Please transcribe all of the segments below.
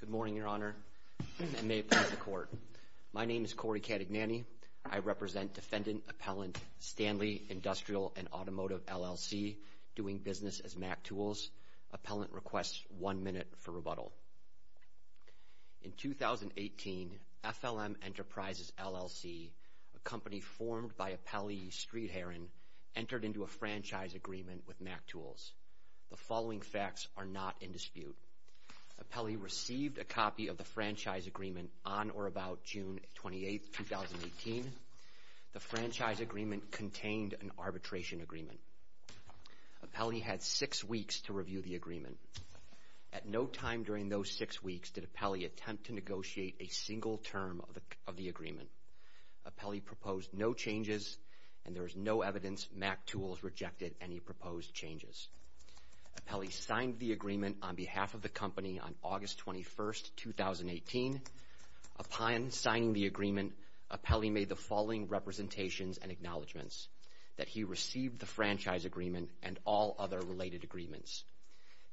Good morning, Your Honor, and may it please the Court. My name is Corey Catagnani. I represent Defendant Appellant Stanley Industrial & Automotive, LLC, doing business as MacTools. Appellant requests one minute for rebuttal. In 2018, FLM Enterprises, LLC, a company formed by Appellee Streedharan, entered into a franchise agreement with MacTools. The following facts are not in dispute. Appellee received a copy of the franchise agreement on or about June 28, 2018. The franchise agreement contained an arbitration agreement. Appellee had six weeks to review the agreement. At no time during those six weeks did Appellee attempt to negotiate a single term of the agreement. Appellee proposed no changes, and there is no evidence MacTools rejected any proposed changes. Appellee signed the agreement on behalf of the company on August 21, 2018. Upon signing the agreement, Appellee made the following representations and acknowledgments, that he received the franchise agreement and all other related agreements,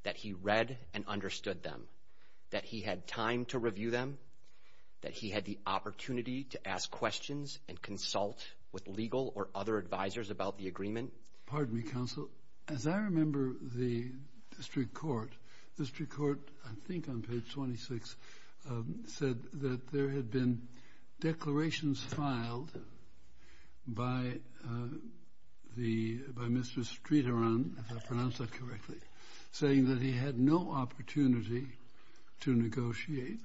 that he read and understood them, that he had time to review them, that he had the opportunity to ask questions and consult with legal or other advisors about the agreement. Pardon me, Counsel. As I remember the district court, the district court, I think on page 26, said that there had been declarations filed by the, by Mr. Streeteran, if I pronounced that correctly, saying that he had no opportunity to negotiate,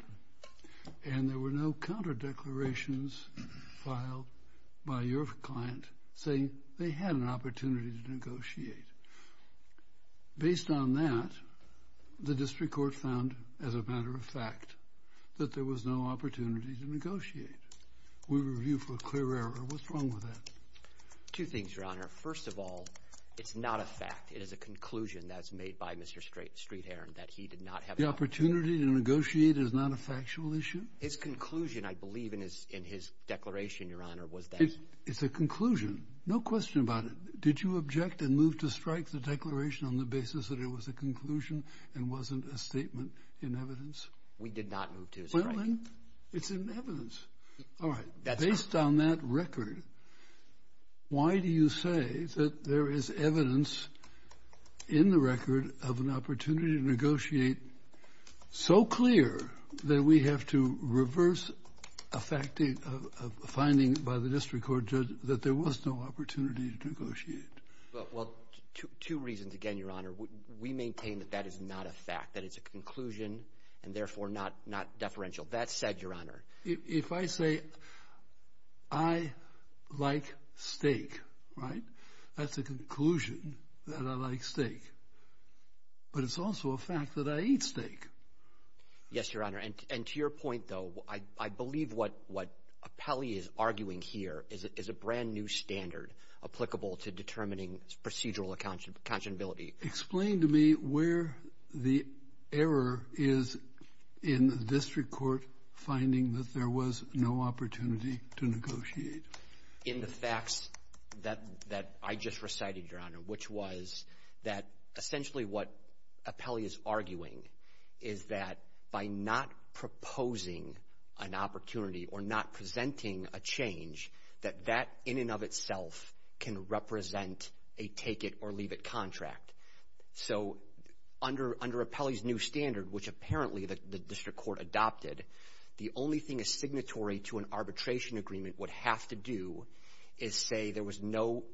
and there were no counter declarations filed by your client saying they had an opportunity to negotiate. Based on that, the district court found, as a matter of fact, that there was no opportunity to negotiate. We review for a clear error. What's wrong with that? Two things, Your Honor. First of all, it's not a fact. It is a conclusion that's made by Mr. Streeteran that he did not have an opportunity. The opportunity to negotiate is not a factual issue? His conclusion, I believe, in his declaration, Your Honor, was that. It's a conclusion. No question about it. Did you object and move to strike the declaration on the basis that it was a conclusion and wasn't a statement in evidence? We did not move to strike. It's in evidence. All right. Based on that record, why do you say that there is evidence in the record of an opportunity to negotiate so clear that we have to reverse a finding by the district court judge that there was no opportunity to negotiate? Well, two reasons. Again, Your Honor, we maintain that that is not a fact, that it's a conclusion and therefore not deferential. That said, Your Honor. If I say I like steak, right, that's a conclusion that I like steak. But it's also a fact that I eat steak. Yes, Your Honor. And to your point, though, I believe what Appelli is arguing here is a brand-new standard applicable to determining procedural accountability. Explain to me where the error is in the district court finding that there was no opportunity to negotiate. In the facts that I just recited, Your Honor, which was that essentially what Appelli is arguing is that by not proposing an opportunity or not presenting a change, that that in and of itself can represent a take-it-or-leave-it contract. So under Appelli's new standard, which apparently the district court adopted, the only thing is signatory to an arbitration agreement would have to do is say there was no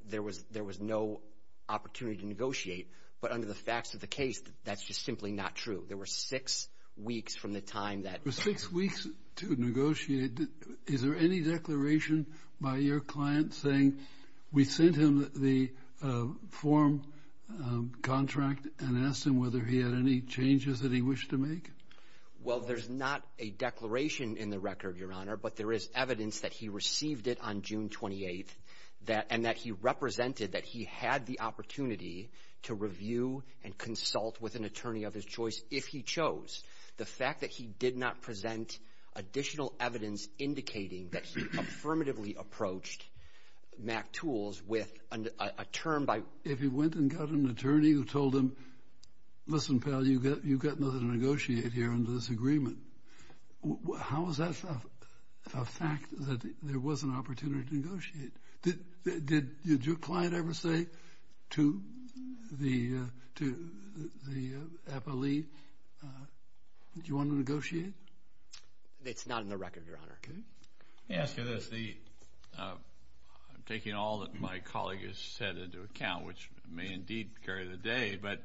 opportunity to negotiate. But under the facts of the case, that's just simply not true. There were six weeks from the time that — There were six weeks to negotiate. Is there any declaration by your client saying, we sent him the form contract and asked him whether he had any changes that he wished to make? Well, there's not a declaration in the record, Your Honor, but there is evidence that he to review and consult with an attorney of his choice if he chose. The fact that he did not present additional evidence indicating that he affirmatively approached MacTools with a term by — If he went and got an attorney who told him, listen, pal, you've got nothing to negotiate here under this agreement, how is that a fact that there was an opportunity to negotiate? Did your client ever say to the Appelli, do you want to negotiate? It's not in the record, Your Honor. Can I ask you this? I'm taking all that my colleague has said into account, which may indeed carry the day, but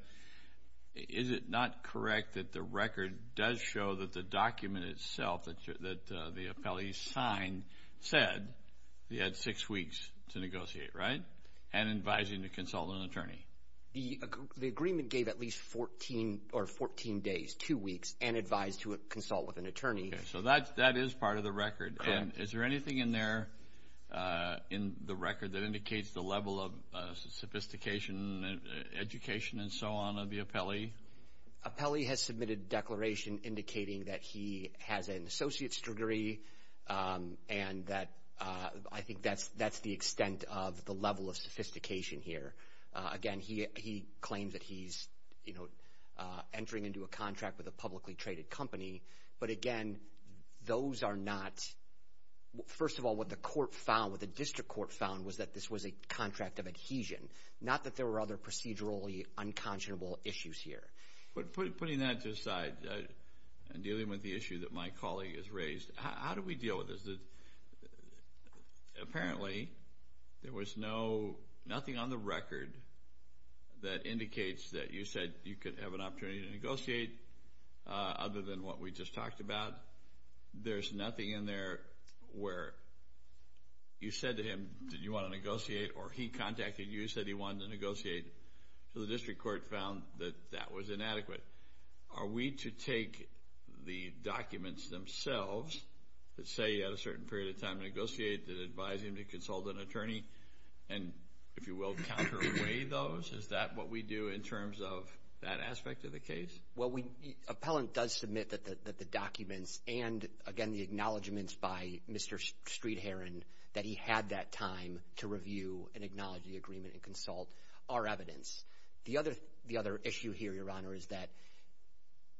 is it not correct that the record does show that the document itself that the Appelli signed said he had six weeks to negotiate, right, and advising to consult an attorney? The agreement gave at least 14 days, two weeks, and advised to consult with an attorney. So that is part of the record. Correct. Is there anything in there in the record that indicates the level of sophistication and education and so on of the Appelli? Appelli has submitted a declaration indicating that he has an associate's degree and that I think that's the extent of the level of sophistication here. Again, he claims that he's, you know, entering into a contract with a publicly traded company. But again, those are not — First of all, what the court found, what the district court found, was that this was a contract of adhesion, not that there were other procedurally unconscionable issues here. But putting that aside and dealing with the issue that my colleague has raised, how do we deal with this? Apparently, there was no — nothing on the record that indicates that you said you could have an opportunity to negotiate other than what we just talked about. There's nothing in there where you said to him, did you want to negotiate? Or he contacted you, said he wanted to negotiate. So the district court found that that was inadequate. Are we to take the documents themselves that say he had a certain period of time to negotiate, that advise him to consult an attorney and, if you will, counter away those? Is that what we do in terms of that aspect of the case? Well, Appellant does submit that the documents and, again, the acknowledgments by Mr. Streetheron that he had that time to review and acknowledge the agreement and consult are evidence. The other issue here, Your Honor, is that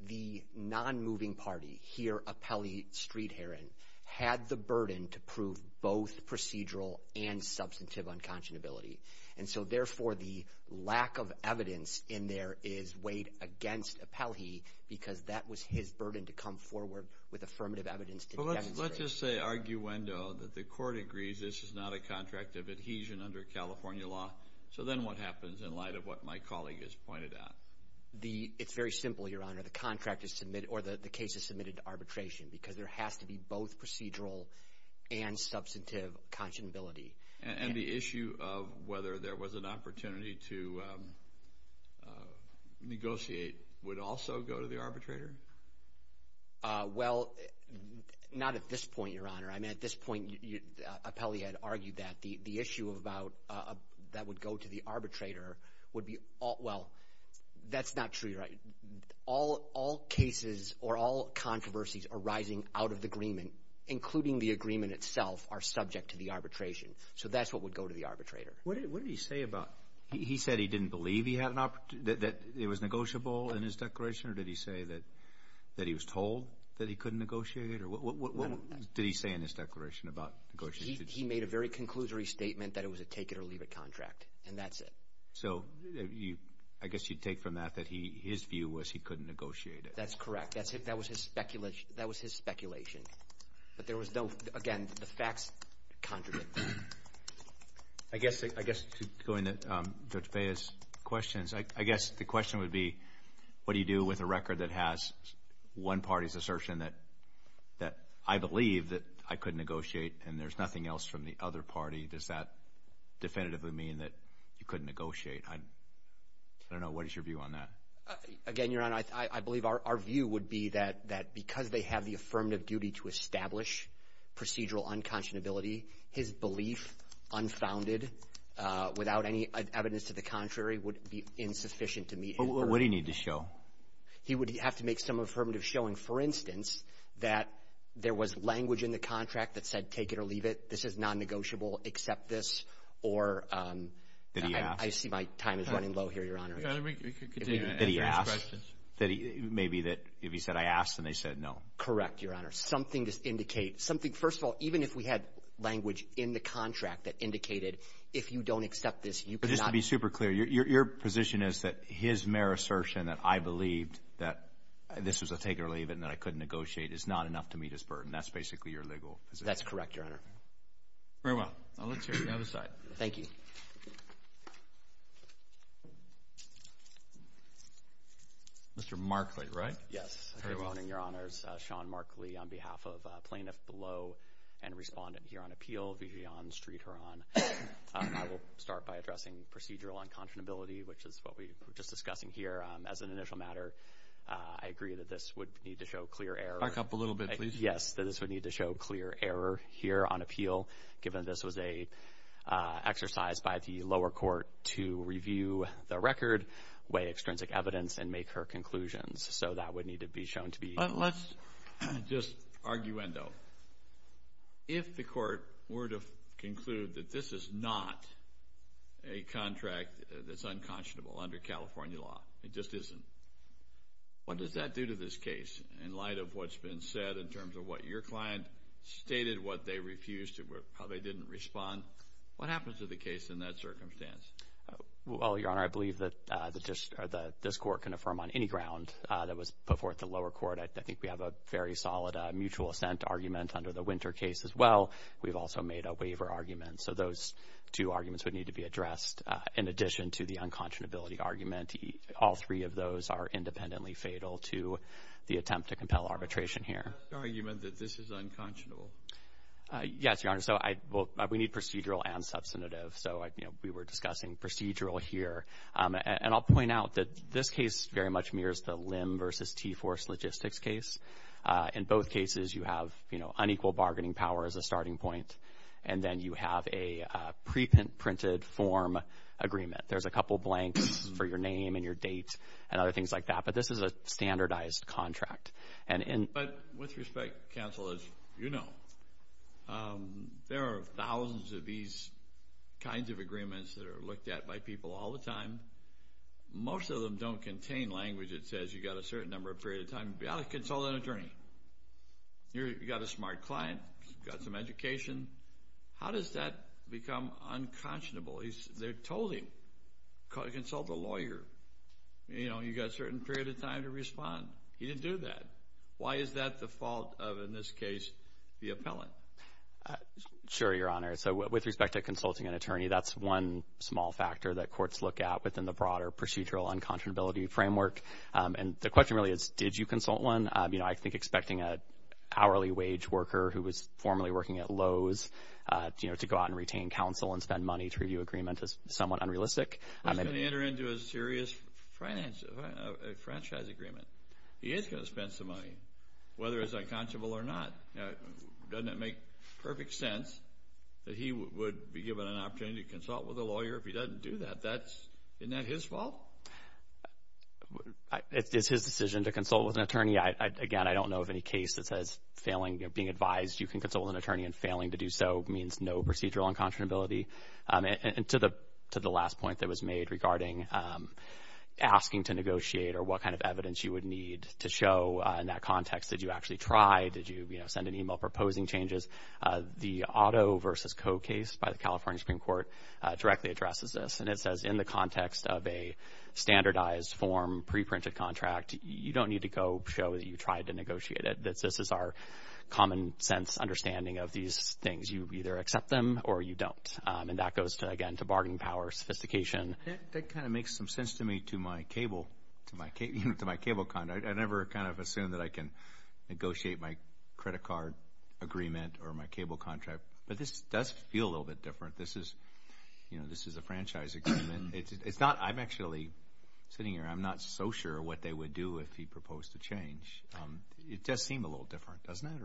the non-moving party, here, Appellee Streetheron, had the burden to prove both procedural and substantive unconscionability. And so, therefore, the lack of evidence in there is weighed against Appellee because that was his burden to come forward with affirmative evidence to demonstrate. Let's just say, arguendo, that the court agrees this is not a contract of adhesion under California law. So then what happens in light of what my colleague has pointed out? It's very simple, Your Honor. The contract is submitted or the case is submitted to arbitration because there has to be both procedural and substantive unconscionability. And the issue of whether there was an opportunity to negotiate would also go to the arbitrator? Well, not at this point, Your Honor. I mean, at this point, Appellee had argued that. The issue about that would go to the arbitrator would be all... Well, that's not true, Your Honor. All cases or all controversies arising out of the agreement, including the agreement itself, are subject to the arbitration. So that's what would go to the arbitrator. What did he say about... He said he didn't believe that it was negotiable in his declaration? Or did he say that he was told that he couldn't negotiate? Or what did he say in his declaration about negotiating? He made a very conclusory statement that it was a take-it-or-leave-it contract. And that's it. So I guess you'd take from that that his view was he couldn't negotiate it. That's correct. That was his speculation. But there was no... Again, the facts conjured it. I guess to go into Judge Feah's questions, I guess the question would be, what do you do with a record that has one party's assertion that I believe that I couldn't negotiate and there's nothing else from the other party? Does that definitively mean that you couldn't negotiate? I don't know. What is your view on that? Again, Your Honor, I believe our view would be that because they have the affirmative duty to establish procedural unconscionability, his belief, unfounded, without any evidence to the contrary, would be insufficient to meet... What would he need to show? He would have to make some affirmative showing, for instance, that there was language in the contract that said take-it-or-leave-it, this is non-negotiable, accept this, or... That he asked. I see my time is running low here, Your Honor. We could continue to answer his questions. That he asked. Maybe that if he said, I asked, and they said no. Correct, Your Honor. Something to indicate. First of all, even if we had language in the contract that indicated, if you don't accept this, you cannot... Just to be super clear, your position is that his mere assertion that I believed that this was a take-it-or-leave-it and that I couldn't negotiate is not enough to meet his burden. That's basically your legal position. That's correct, Your Honor. Very well. I'll look to the other side. Thank you. Mr. Markley, right? Yes. Good morning, Your Honors. Sean Markley on behalf of plaintiff below and respondent here on appeal, Vijayan Sreedharan. I will start by addressing procedural unconscionability, which is what we were just discussing here as an initial matter. I agree that this would need to show clear error. Back up a little bit, please. Yes, that this would need to show clear error here on appeal, given this was an exercise by the lower court to review the record, weigh extrinsic evidence, and make her conclusions. So that would need to be shown to be... Let's just arguendo. If the court were to conclude that this is not a contract that's unconscionable under California law, it just isn't, what does that do to this case in light of what's been said in terms of what your client stated, what they refused, how they didn't respond? What happens to the case in that circumstance? Well, Your Honor, I believe that this court can affirm on any ground that was put forth at the lower court. I think we have a very solid mutual assent argument under the Winter case as well. We've also made a waiver argument. So those two arguments would need to be addressed. In addition to the unconscionability argument, all three of those are independently fatal to the attempt to compel arbitration here. So you mean that this is unconscionable? Yes, Your Honor. So we need procedural and substantive. So we were discussing procedural here. And I'll point out that this case very much mirrors the Lim versus T-Force Logistics case. In both cases, you have unequal bargaining power as a starting point. And then you have a preprinted form agreement. There's a couple blanks for your name and your date and other things like that. But this is a standardized contract. But with respect, counsel, as you know, there are thousands of these kinds of agreements that are looked at by people all the time. Most of them don't contain language that says you've got a certain number of period of time to consult an attorney. You've got a smart client, you've got some education. How does that become unconscionable? They told him, consult a lawyer. You know, you've got a certain period of time to respond. He didn't do that. Why is that the fault of, in this case, the appellant? Sure, Your Honor. So with respect to consulting an attorney, that's one small factor that courts look at within the broader procedural unconscionability framework. And the question really is, did you consult one? You know, I think expecting an hourly wage worker who was formerly working at Lowe's, you know, to go out and retain counsel and spend money to review agreement is somewhat unrealistic. He's going to enter into a serious franchise agreement. He is going to spend some money, whether it's unconscionable or not. Doesn't it make perfect sense that he would be given an opportunity to consult with a lawyer if he doesn't do that? That's, isn't that his fault? It's his decision to consult with an attorney. Again, I don't know of any case that says failing, being advised you can consult with an attorney and failing to do so means no procedural unconscionability. And to the last point that was made regarding asking to negotiate or what kind of evidence you would need to show in that context, did you actually try? Did you, you know, send an email proposing changes? The Otto versus Coe case by the California Supreme Court directly addresses this. And it says in the context of a standardized form, pre-printed contract, you don't need to go show that you tried to negotiate it. This is our common sense understanding of these things. You either accept them or you don't. And that goes to, again, to bargaining power, sophistication. That kind of makes some sense to me to my cable, to my cable, you know, to my cable conduct. I never kind of assumed that I can negotiate my credit card agreement or my cable contract. But this does feel a little bit different. This is, you know, this is a franchise agreement. It's not, I'm actually sitting here, I'm not so sure what they would do if he proposed to change. It does seem a little different, doesn't it?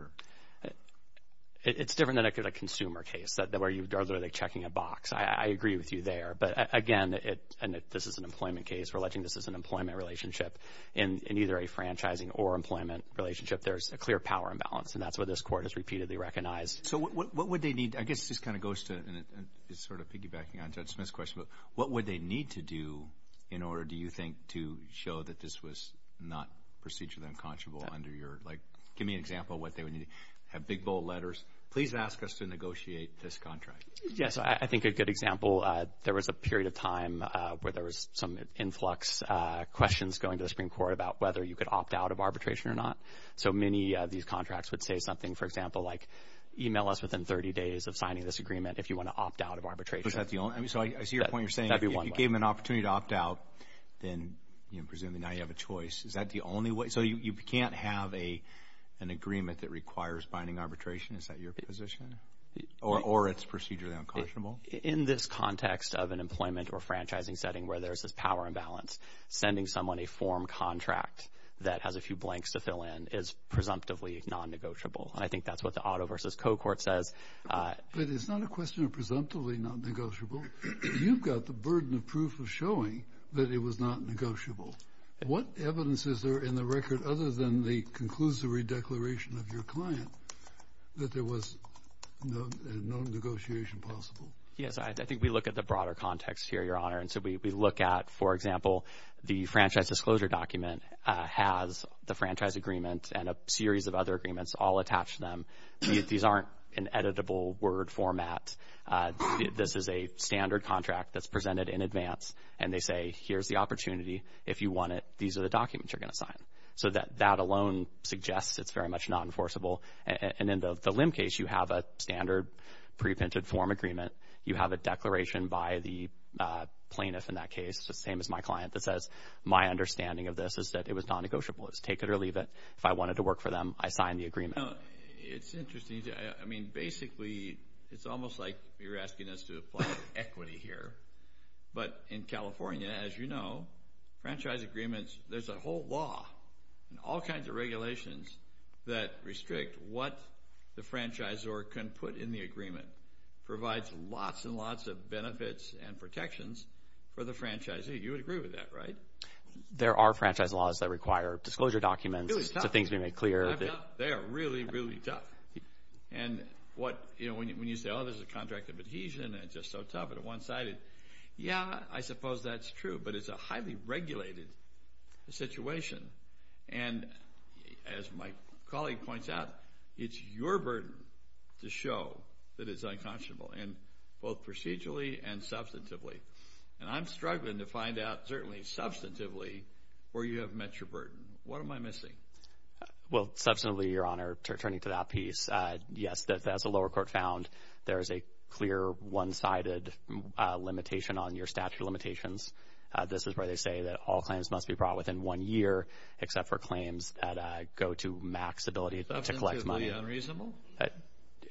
It's different than a consumer case that where you are literally checking a box. I agree with you there. But again, and this is an employment case. We're alleging this is an employment relationship in either a franchising or employment relationship. There's a clear power imbalance, and that's what this court has repeatedly recognized. So what would they need? I guess this kind of goes to, and it's sort of piggybacking on Judge Smith's question, but what would they need to do in order, do you think, to show that this was not procedurally unconscionable under your, like, give me an example of what they would need. Have big bold letters. Please ask us to negotiate this contract. Yes, I think a good example. There was a period of time where there was some influx questions going to the Supreme Court about whether you could opt out of arbitration or not. So many of these contracts would say something, for example, like, email us within 30 days of signing this agreement if you want to opt out of arbitration. Is that the only? So I see your point. You're saying if you gave them an opportunity to opt out, then, you know, presumably now you have a choice. Is that the only way? So you can't have an agreement that requires binding arbitration? Is that your position? Or it's procedurally unconscionable? In this context of an employment or franchising setting where there's this power imbalance, sending someone a form contract that has a few blanks to fill in is presumptively non-negotiable. And I think that's what the auto versus co-court says. But it's not a question of presumptively not negotiable. You've got the burden of proof of showing that it was not negotiable. What evidence is there in the record other than the conclusory declaration of your client that there was no negotiation possible? Yes, I think we look at the broader context here, Your Honor. And so we look at, for example, the franchise disclosure document has the franchise agreement and a series of other agreements all attached to them. These aren't an editable word format. This is a standard contract that's presented in advance. And they say, here's the opportunity. If you want it, these are the documents you're going to sign. So that alone suggests it's very much not enforceable. And in the LIM case, you have a standard preprinted form agreement. You have a declaration by the plaintiff in that case, the same as my client, that says, my understanding of this is that it was non-negotiable. It was take it or leave it. If I wanted to work for them, I signed the agreement. No, it's interesting. I mean, basically, it's almost like you're asking us to apply equity here. But in California, as you know, franchise agreements, there's a whole law and all kinds of regulations that restrict what the franchisor can put in the agreement. Provides lots and lots of benefits and protections for the franchisee. You would agree with that, right? There are franchise laws that require disclosure documents. It's the things we make clear. They are really, really tough. And what, you know, when you say, oh, there's a contract of adhesion, and it's just so tough and one-sided. Yeah, I suppose that's true. But it's a highly regulated situation. And as my colleague points out, it's your burden to show that it's unconscionable. And both procedurally and substantively. And I'm struggling to find out, certainly substantively, where you have met your burden. What am I missing? Well, substantively, Your Honor, returning to that piece, yes, that as the lower court found, there is a clear one-sided limitation on your statute of limitations. This is where they say that all claims must be brought within one year, except for claims that go to max ability to collect money. Substantively unreasonable?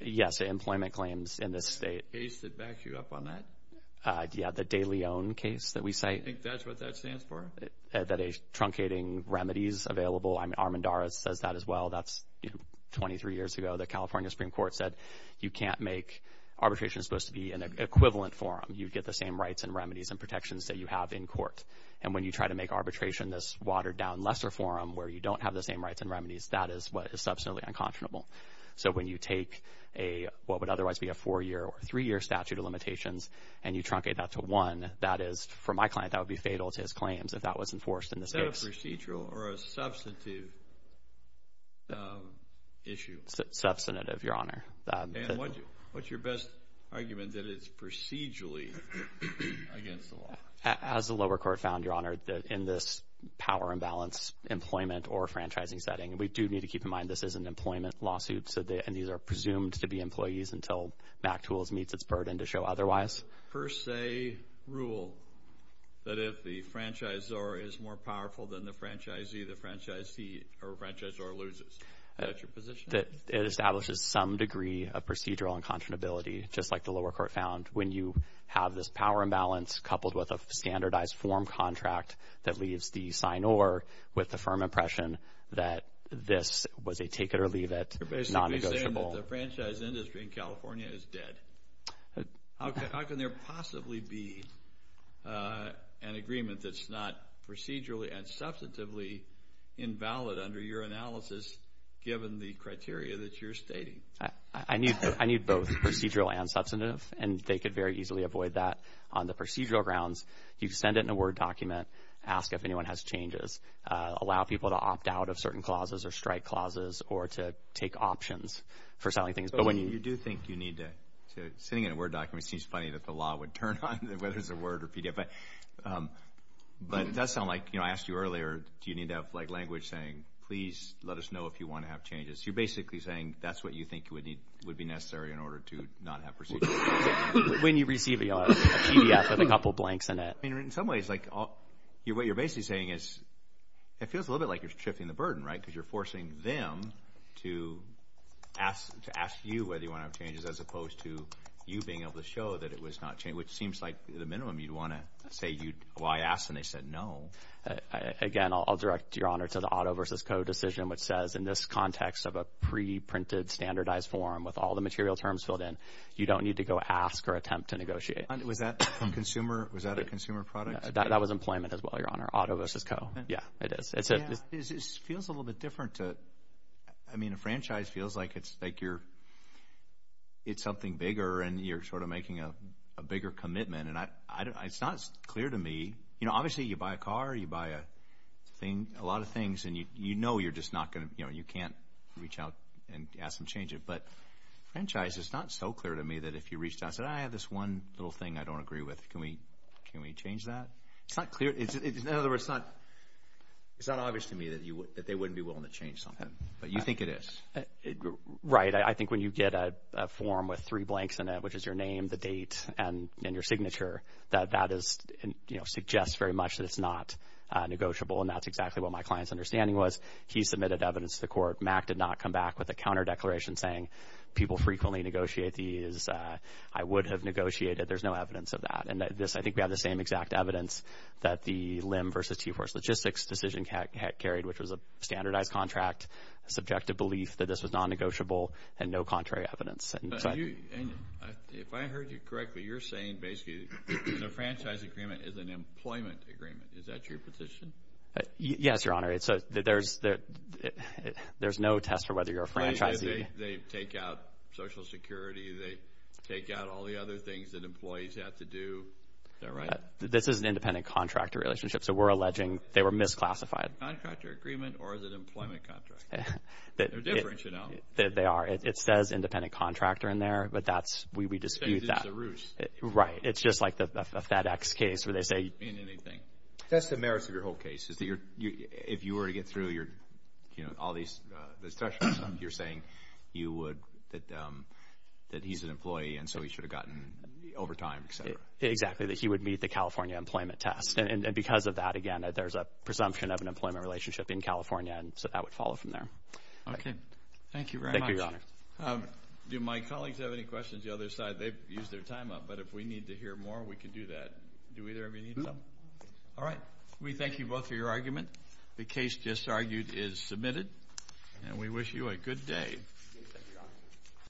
Yes, employment claims in this state. The case that backs you up on that? Yeah, the De Leon case that we cite. I think that's what that stands for. That is truncating remedies available. I mean, Armendariz says that as well. That's, you know, 23 years ago, the California Supreme Court said, you can't make arbitration supposed to be an equivalent forum. You get the same rights and remedies and protections that you have in court. And when you try to make arbitration this watered down lesser forum, where you don't have the same rights and remedies, that is what is substantively unconscionable. So when you take a, what would otherwise be a four-year or three-year statute of limitations, and you truncate that to one, that is, for my client, that would be fatal to his claims if that was enforced in this case. Is that a procedural or a substantive issue? Substantive, Your Honor. What's your best argument that it's procedurally against the law? As the lower court found, Your Honor, in this power imbalance employment or franchising setting, we do need to keep in mind this is an employment lawsuit, and these are presumed to be employees until MacTools meets its burden to show otherwise. Per se rule that if the franchisor is more powerful than the franchisee, the franchisee or franchisor loses. Is that your position? It establishes some degree of procedural unconscionability, just like the lower court found. When you have this power imbalance coupled with a standardized form contract that leaves the signor with the firm impression that this was a take-it-or-leave-it, non-negotiable... You're basically saying that the franchise industry in California is dead. How can there possibly be an agreement that's not procedurally and substantively invalid under your analysis, given the criteria that you're stating? I need both procedural and substantive, and they could very easily avoid that. On the procedural grounds, you send it in a Word document, ask if anyone has changes, allow people to opt out of certain clauses or strike clauses, or to take options for selling things. Sitting in a Word document seems funny that the law would turn on whether it's a Word or PDF. But it does sound like... I asked you earlier, do you need to have language saying, please let us know if you want to have changes? You're basically saying that's what you think would be necessary in order to not have procedural changes. When you receive a PDF with a couple of blanks in it. In some ways, what you're basically saying is, it feels a little bit like you're shifting the burden, right? Because you're forcing them to ask you whether you want to have changes as opposed to you being able to show that it was not changed, which seems like the minimum. You'd want to say, why ask? And they said, no. Again, I'll direct, Your Honor, to the Otto versus Co. decision, which says in this context of a pre-printed standardized form with all the material terms filled in, you don't need to go ask or attempt to negotiate. Was that from consumer? Was that a consumer product? That was employment as well, Your Honor. Otto versus Co., yeah. It feels a little bit different. I mean, a franchise feels like it's something bigger and you're sort of making a bigger commitment. And it's not clear to me. You know, obviously you buy a car, you buy a lot of things and you know you can't reach out and ask them to change it. But franchise, it's not so clear to me that if you reached out and said, I have this one little thing I don't agree with. Can we change that? It's not clear. In other words, it's not obvious to me that they wouldn't be willing to change something. But you think it is. Right. I think when you get a form with three blanks in it, which is your name, the date, and your signature, that that is, you know, suggests very much that it's not negotiable. And that's exactly what my client's understanding was. He submitted evidence to the court. Mack did not come back with a counter declaration saying, people frequently negotiate these. I would have negotiated. There's no evidence of that. And this, I think we have the same exact evidence that the LIM versus T-Force Logistics decision carried, which was a standardized contract, subjective belief that this was non-negotiable, and no contrary evidence. If I heard you correctly, you're saying basically the franchise agreement is an employment agreement. Is that your position? Yes, Your Honor. There's no test for whether you're a franchisee. They take out all the other things that employees have to do. Is that right? This is an independent contractor relationship. So we're alleging they were misclassified. Contractor agreement or is it employment contract? They're different, you know. They are. It says independent contractor in there, but that's, we dispute that. It's a ruse. Right. It's just like the FedEx case where they say... It doesn't mean anything. That's the merits of your whole case, is that if you were to get through your, you know, all these, the thresholds, you're saying you would, that he's an employee, and so he should have gotten overtime, et cetera. Exactly. That he would meet the California employment test. And because of that, again, there's a presumption of an employment relationship in California, and so that would follow from there. Okay. Thank you very much. Thank you, Your Honor. Do my colleagues have any questions? The other side, they've used their time up, but if we need to hear more, we can do that. Do either of you need some? All right. We thank you both for your argument. The case just argued is submitted, and we wish you a good day.